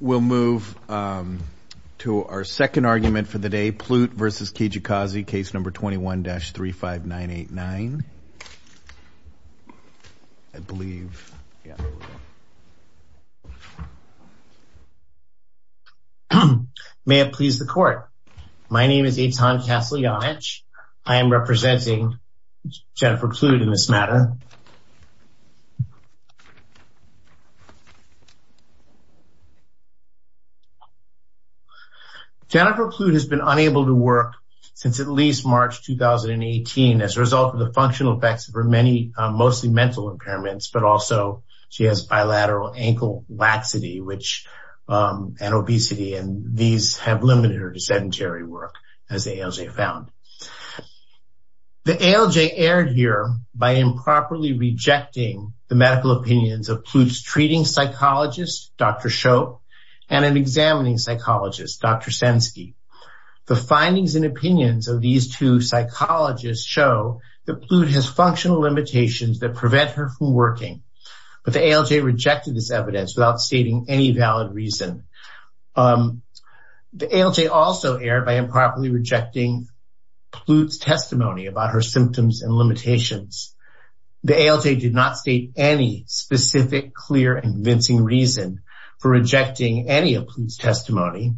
We'll move to our second argument for the day. Plute v. Kijakazi, case number 21-35989. May it please the court. My name is Eitan Kaslyanich. I am representing Jennifer Plute in this matter. Jennifer Plute has been unable to work since at least March 2018 as a result of the functional effects of her many, mostly mental impairments, but also she has bilateral ankle laxity, and obesity, and these have limited her to sedentary work, as the ALJ found. The ALJ erred here by improperly rejecting the medical opinions of Plute's treating psychologist, Dr. Shope, and an examining psychologist, Dr. Senske. The findings and opinions of these two psychologists show that Plute has functional limitations that prevent her from working, but the ALJ rejected this evidence without stating any valid reason. The ALJ also erred by improperly rejecting Plute's testimony about her symptoms and limitations. The ALJ did not any specific clear and convincing reason for rejecting any of Plute's testimony,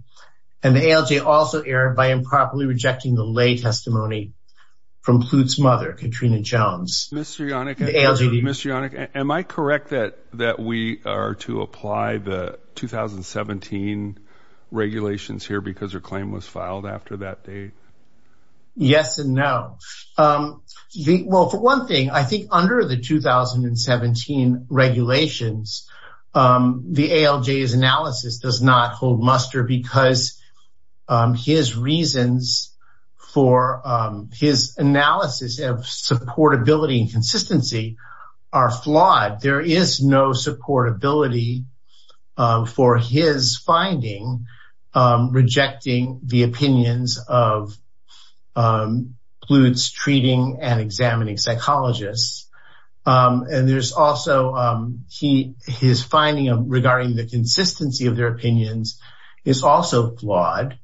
and the ALJ also erred by improperly rejecting the lay testimony from Plute's mother, Katrina Jones. Mr. Yannick, am I correct that we are to apply the 2017 regulations here because her claim was filed after that date? Yes and no. Well, for one thing, I think under the 2017 regulations, the ALJ's analysis does not hold muster because his reasons for his analysis of supportability and consistency are flawed. There is no supportability for his finding rejecting the opinions of Plute's treating and examining psychologists. His finding regarding the consistency of their opinions is also flawed.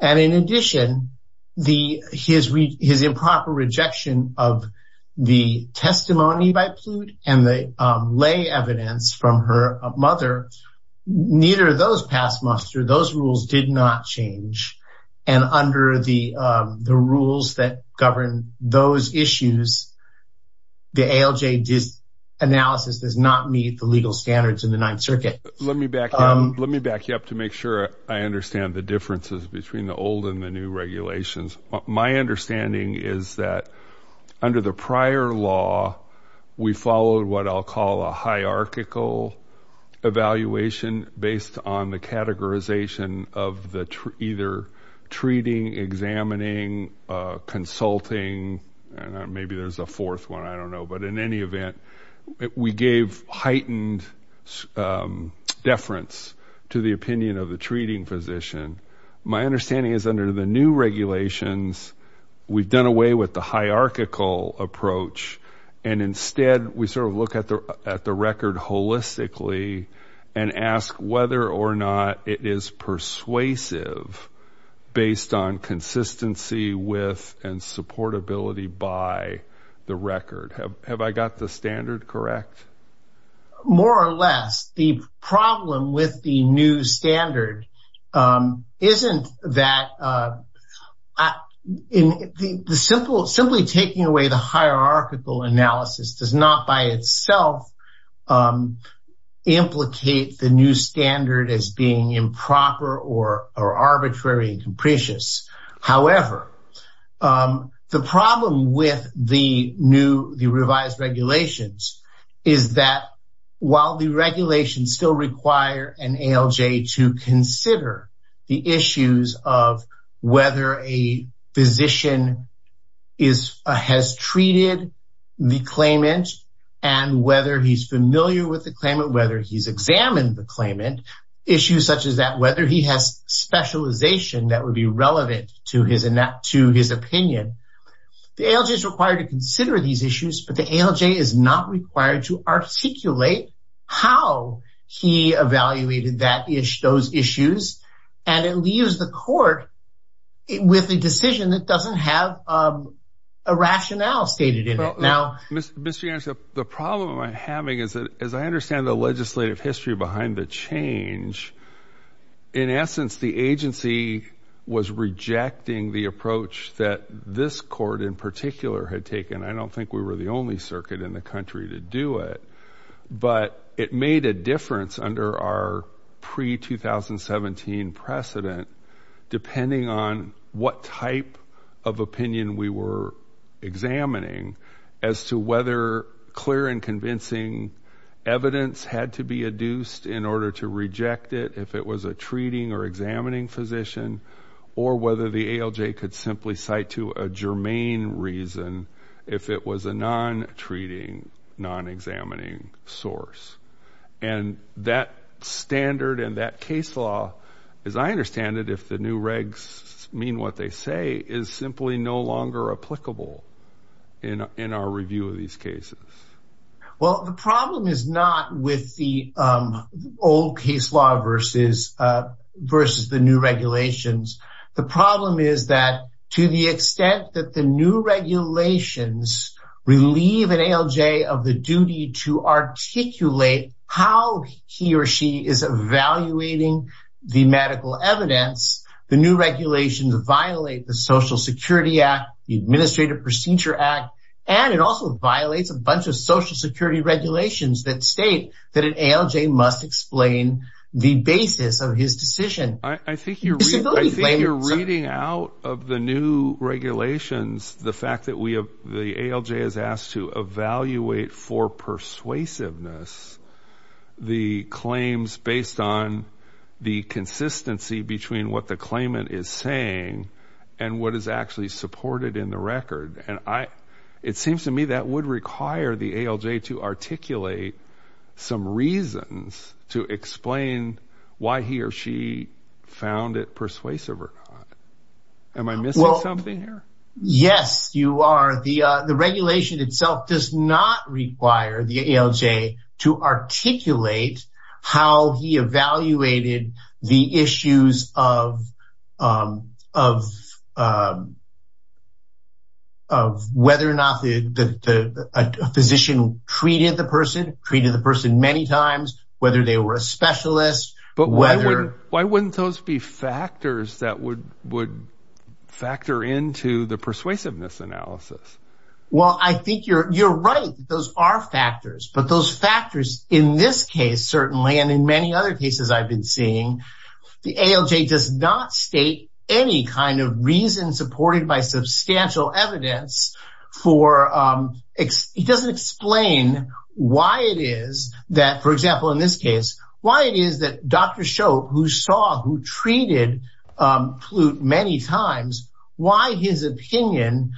In addition, his improper rejection of the testimony by Plute and the lay evidence from her mother, neither of those passed muster. Those rules did not change, and under the rules that govern those issues, the ALJ analysis does not meet the legal standards in the Ninth Circuit. Let me back you up to make sure I understand the differences between the old and the new regulations. My understanding is that under the prior law, we followed what I'll call a hierarchical evaluation based on the categorization of either treating, examining, consulting, and maybe there's a fourth one, I don't know, but in any event, we gave heightened deference to the opinion of the treating physician. My understanding is under the new regulations, we've done away with the hierarchical approach, and instead we sort of look at the record holistically and ask whether or not it is persuasive based on consistency with and supportability by the record. Have I got the standard correct? More or less, the problem with the new standard isn't that simply taking away the hierarchical analysis does not by itself implicate the new standard as being improper or arbitrary and while the regulations still require an ALJ to consider the issues of whether a physician has treated the claimant and whether he's familiar with the claimant, whether he's examined the claimant, issues such as that, whether he has specialization that would be relevant to his opinion. The ALJ is required to consider these issues, but the ALJ is not required to articulate how he evaluated those issues, and it leaves the court with a decision that doesn't have a rationale stated in it. Now, Mr. Yarns, the problem I'm having is that as I understand the legislative history behind the change, in essence, the agency was rejecting the approach that this court in particular had taken. I don't think we were the only circuit in the country to do it, but it made a difference under our pre-2017 precedent depending on what type of opinion we were examining as to whether clear and convincing evidence had to be adduced in order to reject it if it was a treating or examining physician or whether the ALJ could simply cite to a germane reason if it was a non-treating, non-examining source. And that standard and that case law, as I understand it, if the new regs mean what they say, is simply no longer applicable in our review of these cases. Well, the problem is not with the old case law versus the new regulations. The problem is that to the extent that the new regulations relieve an ALJ of the duty to articulate how he or she is evaluating the medical evidence, the new regulations violate the Social Security Act, the Administrative Procedure Act, and it also violates a bunch of Social Security regulations that state that an ALJ must explain the basis of his decision. I think you're reading out of the new regulations the fact that the ALJ is asked to evaluate for persuasiveness the claims based on the consistency between what the claimant is saying and what is actually supported in the record. And it seems to me that would require the ALJ to articulate some reasons to explain why he or she found it persuasive or not. Am I missing something here? Yes, you are. The issues of whether or not a physician treated the person, treated the person many times, whether they were a specialist. But why wouldn't those be factors that would factor into the persuasiveness analysis? Well, I think you're right. Those are factors. But those factors in this case, certainly, and in many other cases I've been seeing, the ALJ does not state any kind of reason supported by substantial evidence for, it doesn't explain why it is that, for example, in this case, why it is that Dr. Shope, who saw, who treated Plut many times, why his opinion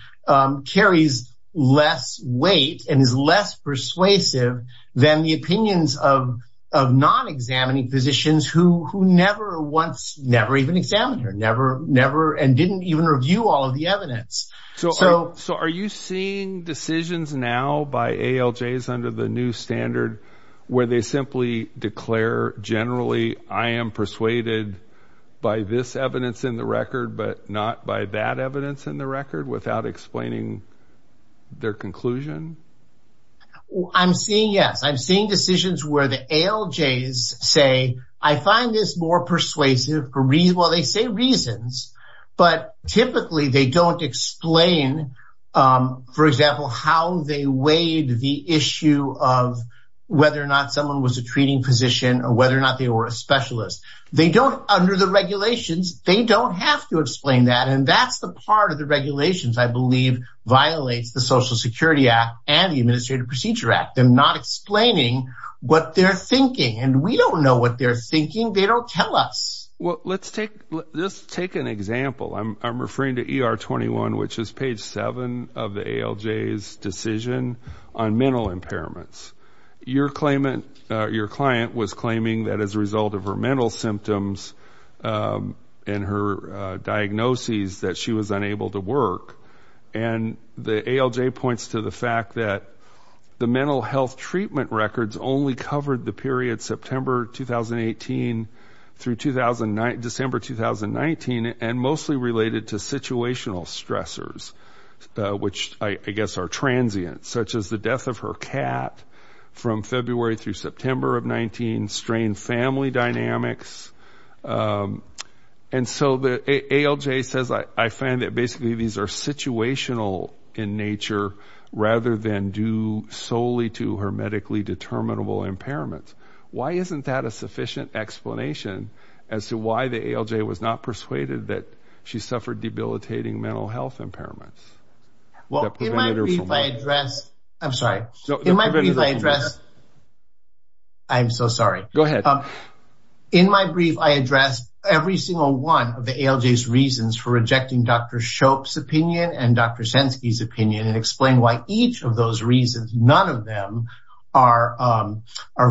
carries less weight and is less persuasive than the opinions of non-examining physicians who never once, never even examined her, never and didn't even review all of the evidence. So are you seeing decisions now by ALJs under the new standard where they declare, generally, I am persuaded by this evidence in the record, but not by that evidence in the record without explaining their conclusion? I'm seeing, yes, I'm seeing decisions where the ALJs say, I find this more persuasive for, well, they say reasons, but typically they don't explain, for example, how they weighed the issue of whether or not someone was a treating physician or whether or not they were a specialist. They don't, under the regulations, they don't have to explain that. And that's the part of the regulations, I believe, violates the Social Security Act and the Administrative Procedure Act. They're not explaining what they're thinking. And we don't know what they're thinking. They don't tell us. Well, let's take, let's take an example. I'm referring to ER 21, which is page seven of the ALJs decision on mental impairments. Your claimant, your client was claiming that as a result of her mental symptoms and her diagnoses that she was unable to work. And the ALJ points to the fact that the mental health treatment records only covered the period September 2018 through 2009, December 2019, and mostly related to situational stressors, which I guess are transient, such as the death of her cat from February through September of 19, strained family dynamics. And so the ALJ says, I find that basically these are situational in nature rather than due solely to her medically determinable impairments. Why isn't that a sufficient explanation as to why ALJ was not persuaded that she suffered debilitating mental health impairments? Well, in my brief, I address, I'm sorry. In my brief, I address, I'm so sorry. Go ahead. In my brief, I address every single one of the ALJs reasons for rejecting Dr. Shope's opinion and Dr. Senske's opinion and explain why each of those reasons, none of them are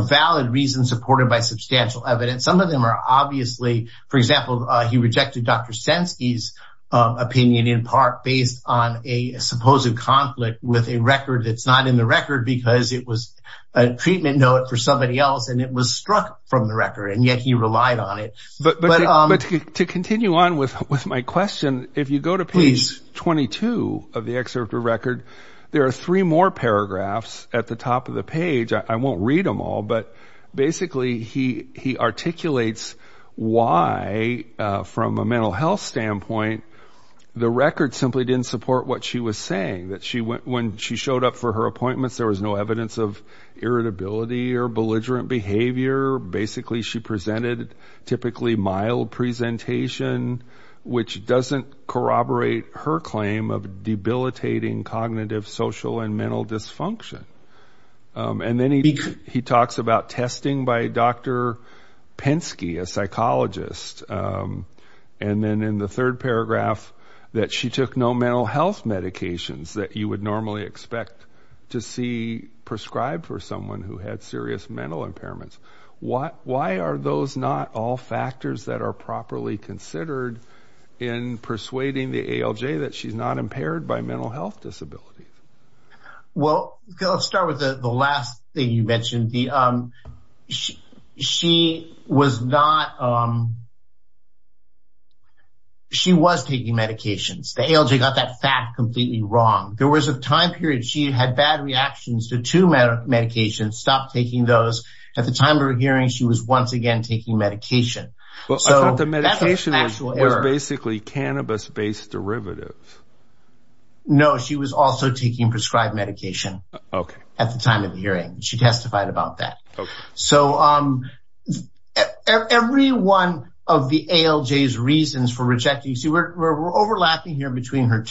valid reasons supported by substantial evidence. Some of them are obviously, for example, he rejected Dr. Senske's opinion in part based on a supposed conflict with a record that's not in the record because it was a treatment note for somebody else and it was struck from the record and yet he relied on it. But to continue on with my question, if you go to page 22 of the excerpt of the record, there are three more paragraphs at the top of the page. I won't read them all, but basically he articulates why, from a mental health standpoint, the record simply didn't support what she was saying. That when she showed up for her appointments, there was no evidence of irritability or belligerent behavior. Basically, she presented typically mild presentation, which doesn't corroborate her claim of debilitating cognitive, social and mental dysfunction. And then he talks about testing by Dr. Penske, a psychologist. And then in the third paragraph, that she took no mental health medications that you would normally expect to see prescribed for someone who had serious mental impairments. Why are those not all factors that are properly considered in persuading the ALJ that she's not impaired by mental health disabilities? Well, I'll start with the last thing you mentioned. She was not, she was taking medications. The ALJ got that fact completely wrong. There was a time period, she had bad reactions to two medications, stopped taking those. At the time of her hearing, she was once again taking medication. So the medication was basically cannabis-based derivative. No, she was also taking prescribed medication. Okay. At the time of the hearing, she testified about that. So every one of the ALJ's reasons for rejecting, see, we're overlapping here between her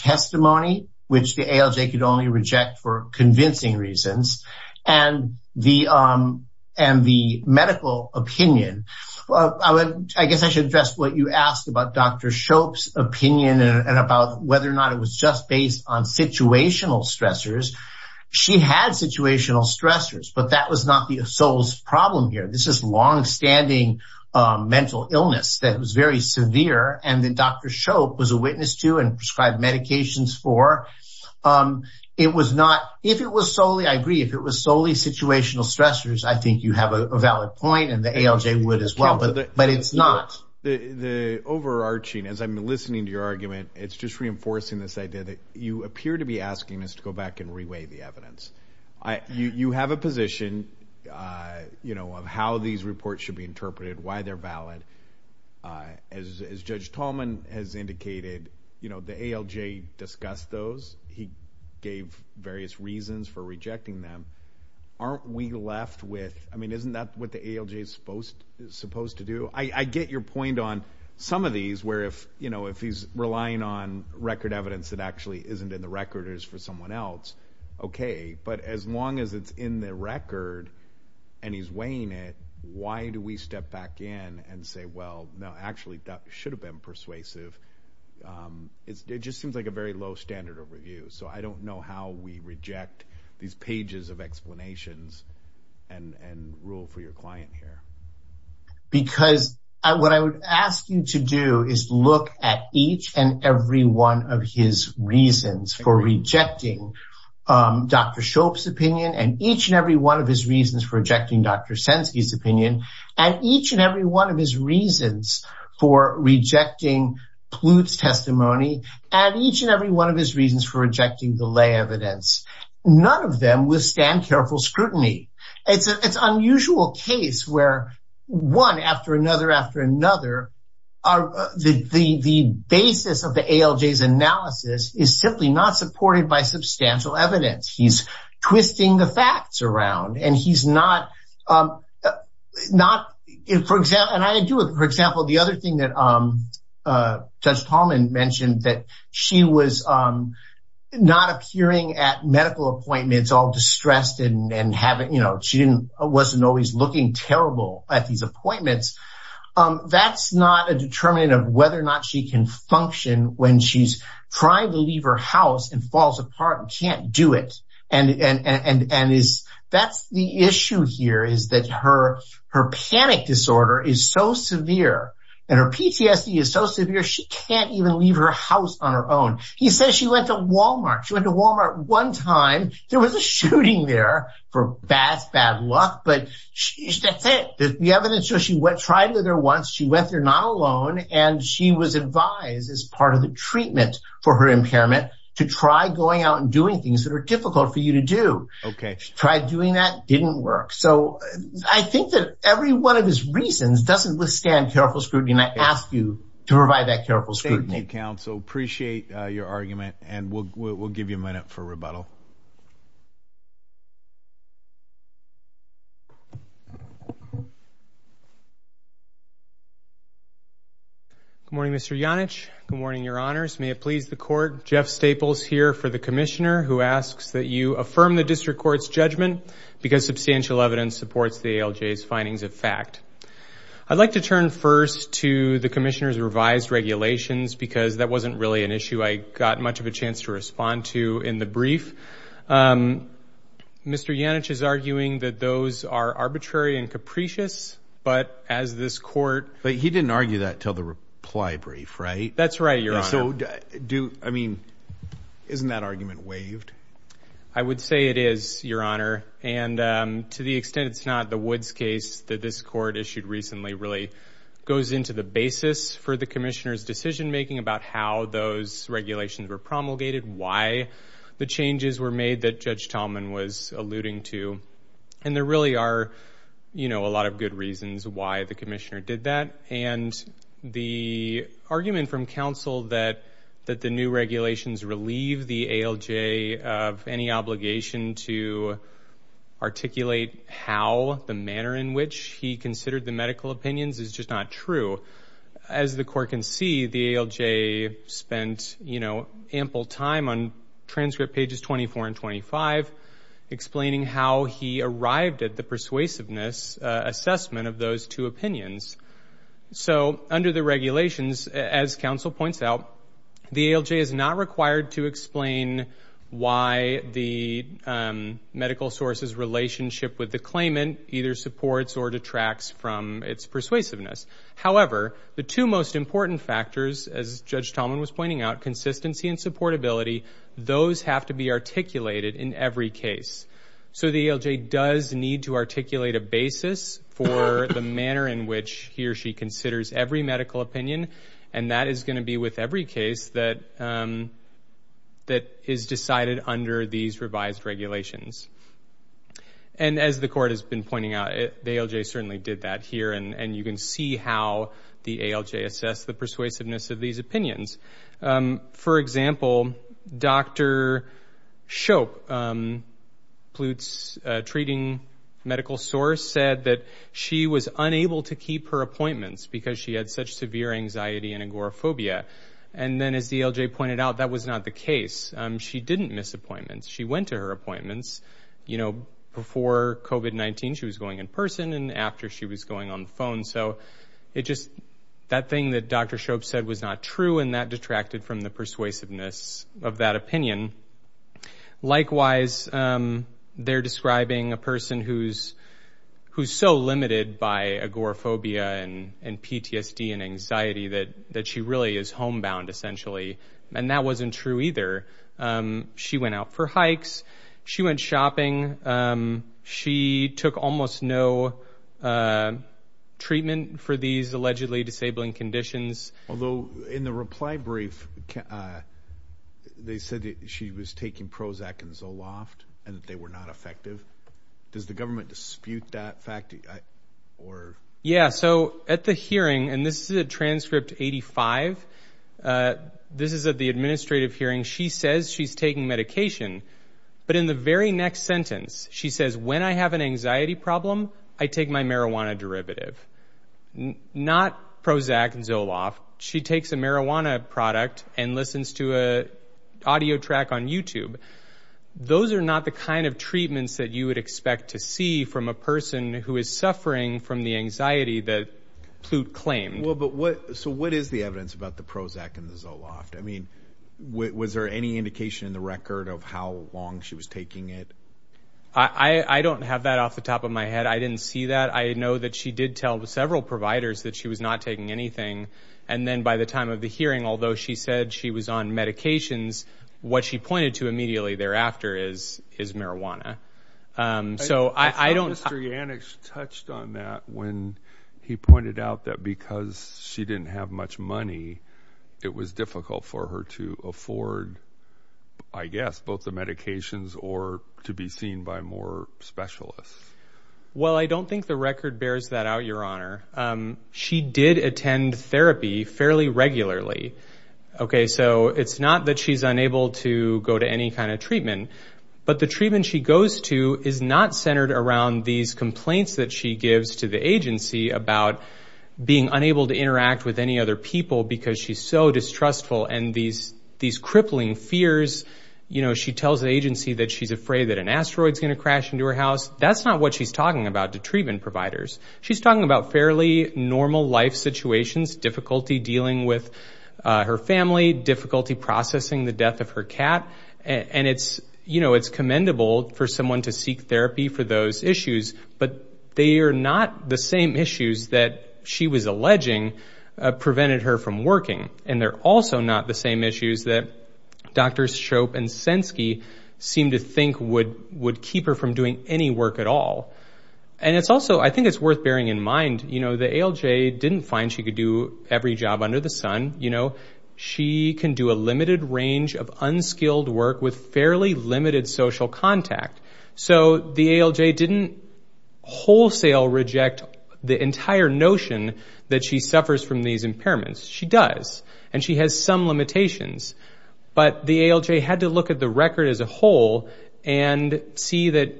opinion. I guess I should address what you asked about Dr. Shope's opinion and about whether or not it was just based on situational stressors. She had situational stressors, but that was not the sole problem here. This is longstanding mental illness that was very severe and that Dr. Shope was a witness to and prescribed medications for. It was not, if it was solely, I agree, if it was solely situational stressors, I think you have a valid point and the ALJ would as well, but it's not. The overarching, as I'm listening to your argument, it's just reinforcing this idea that you appear to be asking us to go back and reweigh the evidence. You have a position of how these reports should be interpreted, why they're valid. As Judge Tallman has indicated, the ALJ discussed those. He gave various reasons for rejecting them. Aren't we left with, I mean, isn't that what the ALJ is supposed to do? I get your point on some of these where if he's relying on record evidence that actually isn't in the record, it's for someone else, okay, but as long as it's in the record and he's weighing it, why do we step back in and say, well, no, actually that should have been persuasive. It just seems like a very low standard of review, so I don't know how we reject these pages of explanations and rule for your client here. Because what I would ask you to do is look at each and every one of his reasons for rejecting Dr. Shope's opinion and each and every one of his reasons for rejecting Dr. Senske's opinion and each and every one of his reasons for rejecting Plut's testimony and each and every one of his reasons for rejecting the lay evidence. None of them withstand careful scrutiny. It's an unusual case where one after another after another, the basis of the ALJ's analysis is simply not supported by substantial evidence. He's twisting the facts around and he's not, and I do, for example, the other thing that Judge Tallman mentioned that she was not appearing at medical appointments all distressed and having, you know, she wasn't always looking terrible at these appointments. That's not a determinant of she can function when she's trying to leave her house and falls apart and can't do it. That's the issue here is that her panic disorder is so severe and her PTSD is so severe, she can't even leave her house on her own. He says she went to Walmart. She went to Walmart one time. There was a shooting there for bad luck, but that's it. The evidence shows she tried there once. She went there not alone, and she was advised as part of the treatment for her impairment to try going out and doing things that are difficult for you to do. Okay. Tried doing that. Didn't work. So, I think that every one of his reasons doesn't withstand careful scrutiny, and I ask you to provide that careful scrutiny. Counsel, appreciate your argument, and we'll give you a minute for rebuttal. Good morning, Mr. Janich. Good morning, Your Honors. May it please the Court, Jeff Staples here for the Commissioner, who asks that you affirm the District Court's judgment because substantial evidence supports the ALJ's findings of fact. I'd like to turn first to the Commissioner's revised regulations because that wasn't really an issue I got much of a chance to respond to in the brief. Mr. Janich is arguing that those are arbitrary and capricious, but as this Court... He didn't argue that until the reply brief, right? That's right, Your Honor. So, isn't that argument waived? I would say it is, Your Honor, and to the extent it's not, the Woods case that this Court issued recently really goes into the basis for the Commissioner's decision-making about how those regulations were promulgated, why the changes were made that Judge Tallman was alluding to, and there really are, you know, a lot of good reasons why the Commissioner did that, and the argument from counsel that the new regulations relieve the ALJ of any obligation to articulate how the manner in which he considered the medical opinions is just not true. As the Court can see, the ALJ spent, you know, ample time on transcript pages 24 and 25 explaining how he arrived at the persuasiveness assessment of those two opinions. So, under the regulations, as counsel points out, the ALJ is not required to explain why the medical source's relationship with the claimant either supports or detracts from its persuasiveness. However, the two most important factors, as Judge Tallman was pointing out, consistency and supportability, those have to be articulated in every case. So, the ALJ does need to articulate a basis for the manner in which he or she considers every medical opinion, and that is going to be with every case that is decided under these revised regulations. And as the Court has been pointing out, the ALJ certainly did that here, and you can see how the ALJ assessed the persuasiveness of these opinions. For example, Dr. Shope, Plut's treating medical source, said that she was unable to keep her appointments because she had such severe anxiety and agoraphobia. And then, as the ALJ pointed out, that was not the case. She didn't miss appointments. She went to her appointments, you know, before COVID-19. She was going in person and after she was going on the phone. So, it just, that thing that Dr. Shope said was not true, and that detracted from the persuasiveness of that opinion. Likewise, they're describing a person who's so limited by agoraphobia and PTSD and anxiety that she really is homebound, essentially. And that wasn't true either. She went out for hikes. She went shopping. She took almost no treatment for these allegedly disabling conditions. Although, in the reply brief, they said that she was taking Prozac and Zoloft, and that they were not effective. Does the government dispute that fact? Yeah, so at the hearing, and this is a transcript 85, this is at the administrative hearing, she says she's taking medication. But in the very next sentence, she says, when I have an anxiety problem, I take my marijuana derivative. Not Prozac and Zoloft. She takes a marijuana product and listens to an audio track on YouTube. Those are not the kind of treatments that you would expect to see from a person who is suffering from the anxiety that Plut claimed. Well, but what, so what is the evidence about the Prozac and the Zoloft? I mean, was there any indication in the record of how long she was taking it? I don't have that off the top of my head. I didn't see that. I know that she did tell several providers that she was not taking anything. And then by the time of the hearing, although she said she was on medications, what she pointed to immediately thereafter is marijuana. So I don't know. Mr. Yannicks touched on that when he pointed out that because she didn't have much money, it was difficult for her to afford, I guess, both the medications or to be seen by more specialists. Well, I don't think the record bears that out, Your Honor. She did attend therapy fairly regularly. Okay, so it's not that she's unable to go to any kind of treatment. But the treatment she goes to is not centered around these complaints that she gives to the agency about being unable to interact with any other people because she's so distrustful and these crippling fears. You know, she tells the agency that she's afraid that an asteroid's going to crash into her house. That's not what she's talking about to treatment providers. She's talking about fairly normal life situations, difficulty dealing with her family, difficulty processing the death of her cat. And it's, you know, it's commendable for someone to seek therapy for those issues. But they are not the same issues that she was alleging prevented her from working. And they're also not the same issues that Drs. Shope and Senske seem to think would keep her from doing any work at all. And it's also, I think it's worth bearing in mind, you know, the ALJ didn't find she could do every job under the sun. You know, she can do a limited range of unskilled work with fairly limited social contact. So the ALJ didn't wholesale reject the entire notion that she suffers from these impairments. She does. And she has some limitations. But the ALJ had to look at the record as a whole and see that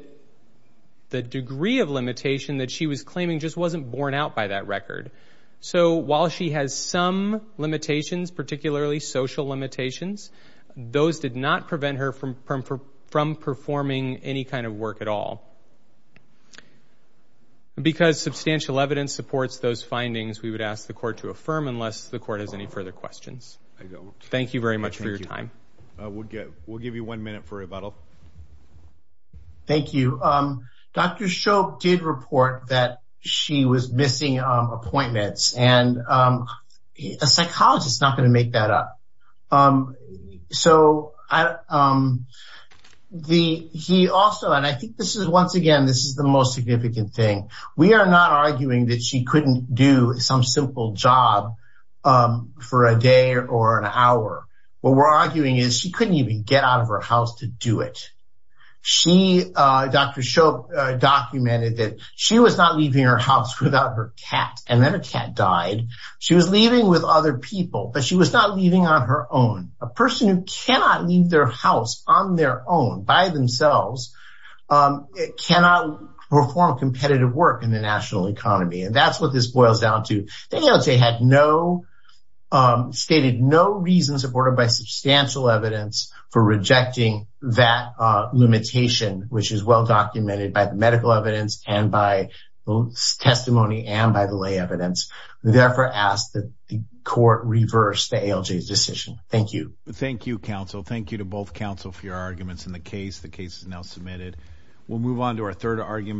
the degree of limitation that she was claiming just wasn't borne out by that record. So while she has some limitations, particularly social limitations, those did not prevent her from performing any kind of work at all. Because substantial evidence supports those findings, we would ask the court to affirm unless the court has any further questions. Thank you very much for your time. We'll give you one minute for rebuttal. Thank you. Dr. Shope did report that she was missing appointments and a psychologist not going to make that up. So he also and I think this is once again, this is the most significant thing. We are not arguing that she couldn't do some simple job for a day or an hour. What we're she, Dr. Shope documented that she was not leaving her house without her cat and then a cat died. She was leaving with other people, but she was not leaving on her own. A person who cannot leave their house on their own by themselves cannot perform competitive work in the national economy. And that's what this boils down to. The ALJ had no stated no reason supported by substantial evidence for rejecting that limitation, which is well documented by the medical evidence and by testimony and by the lay evidence. We therefore ask that the court reverse the ALJ's decision. Thank you. Thank you, counsel. Thank you to both counsel for your arguments in the case. The case is now submitted. We'll move on to our third argument.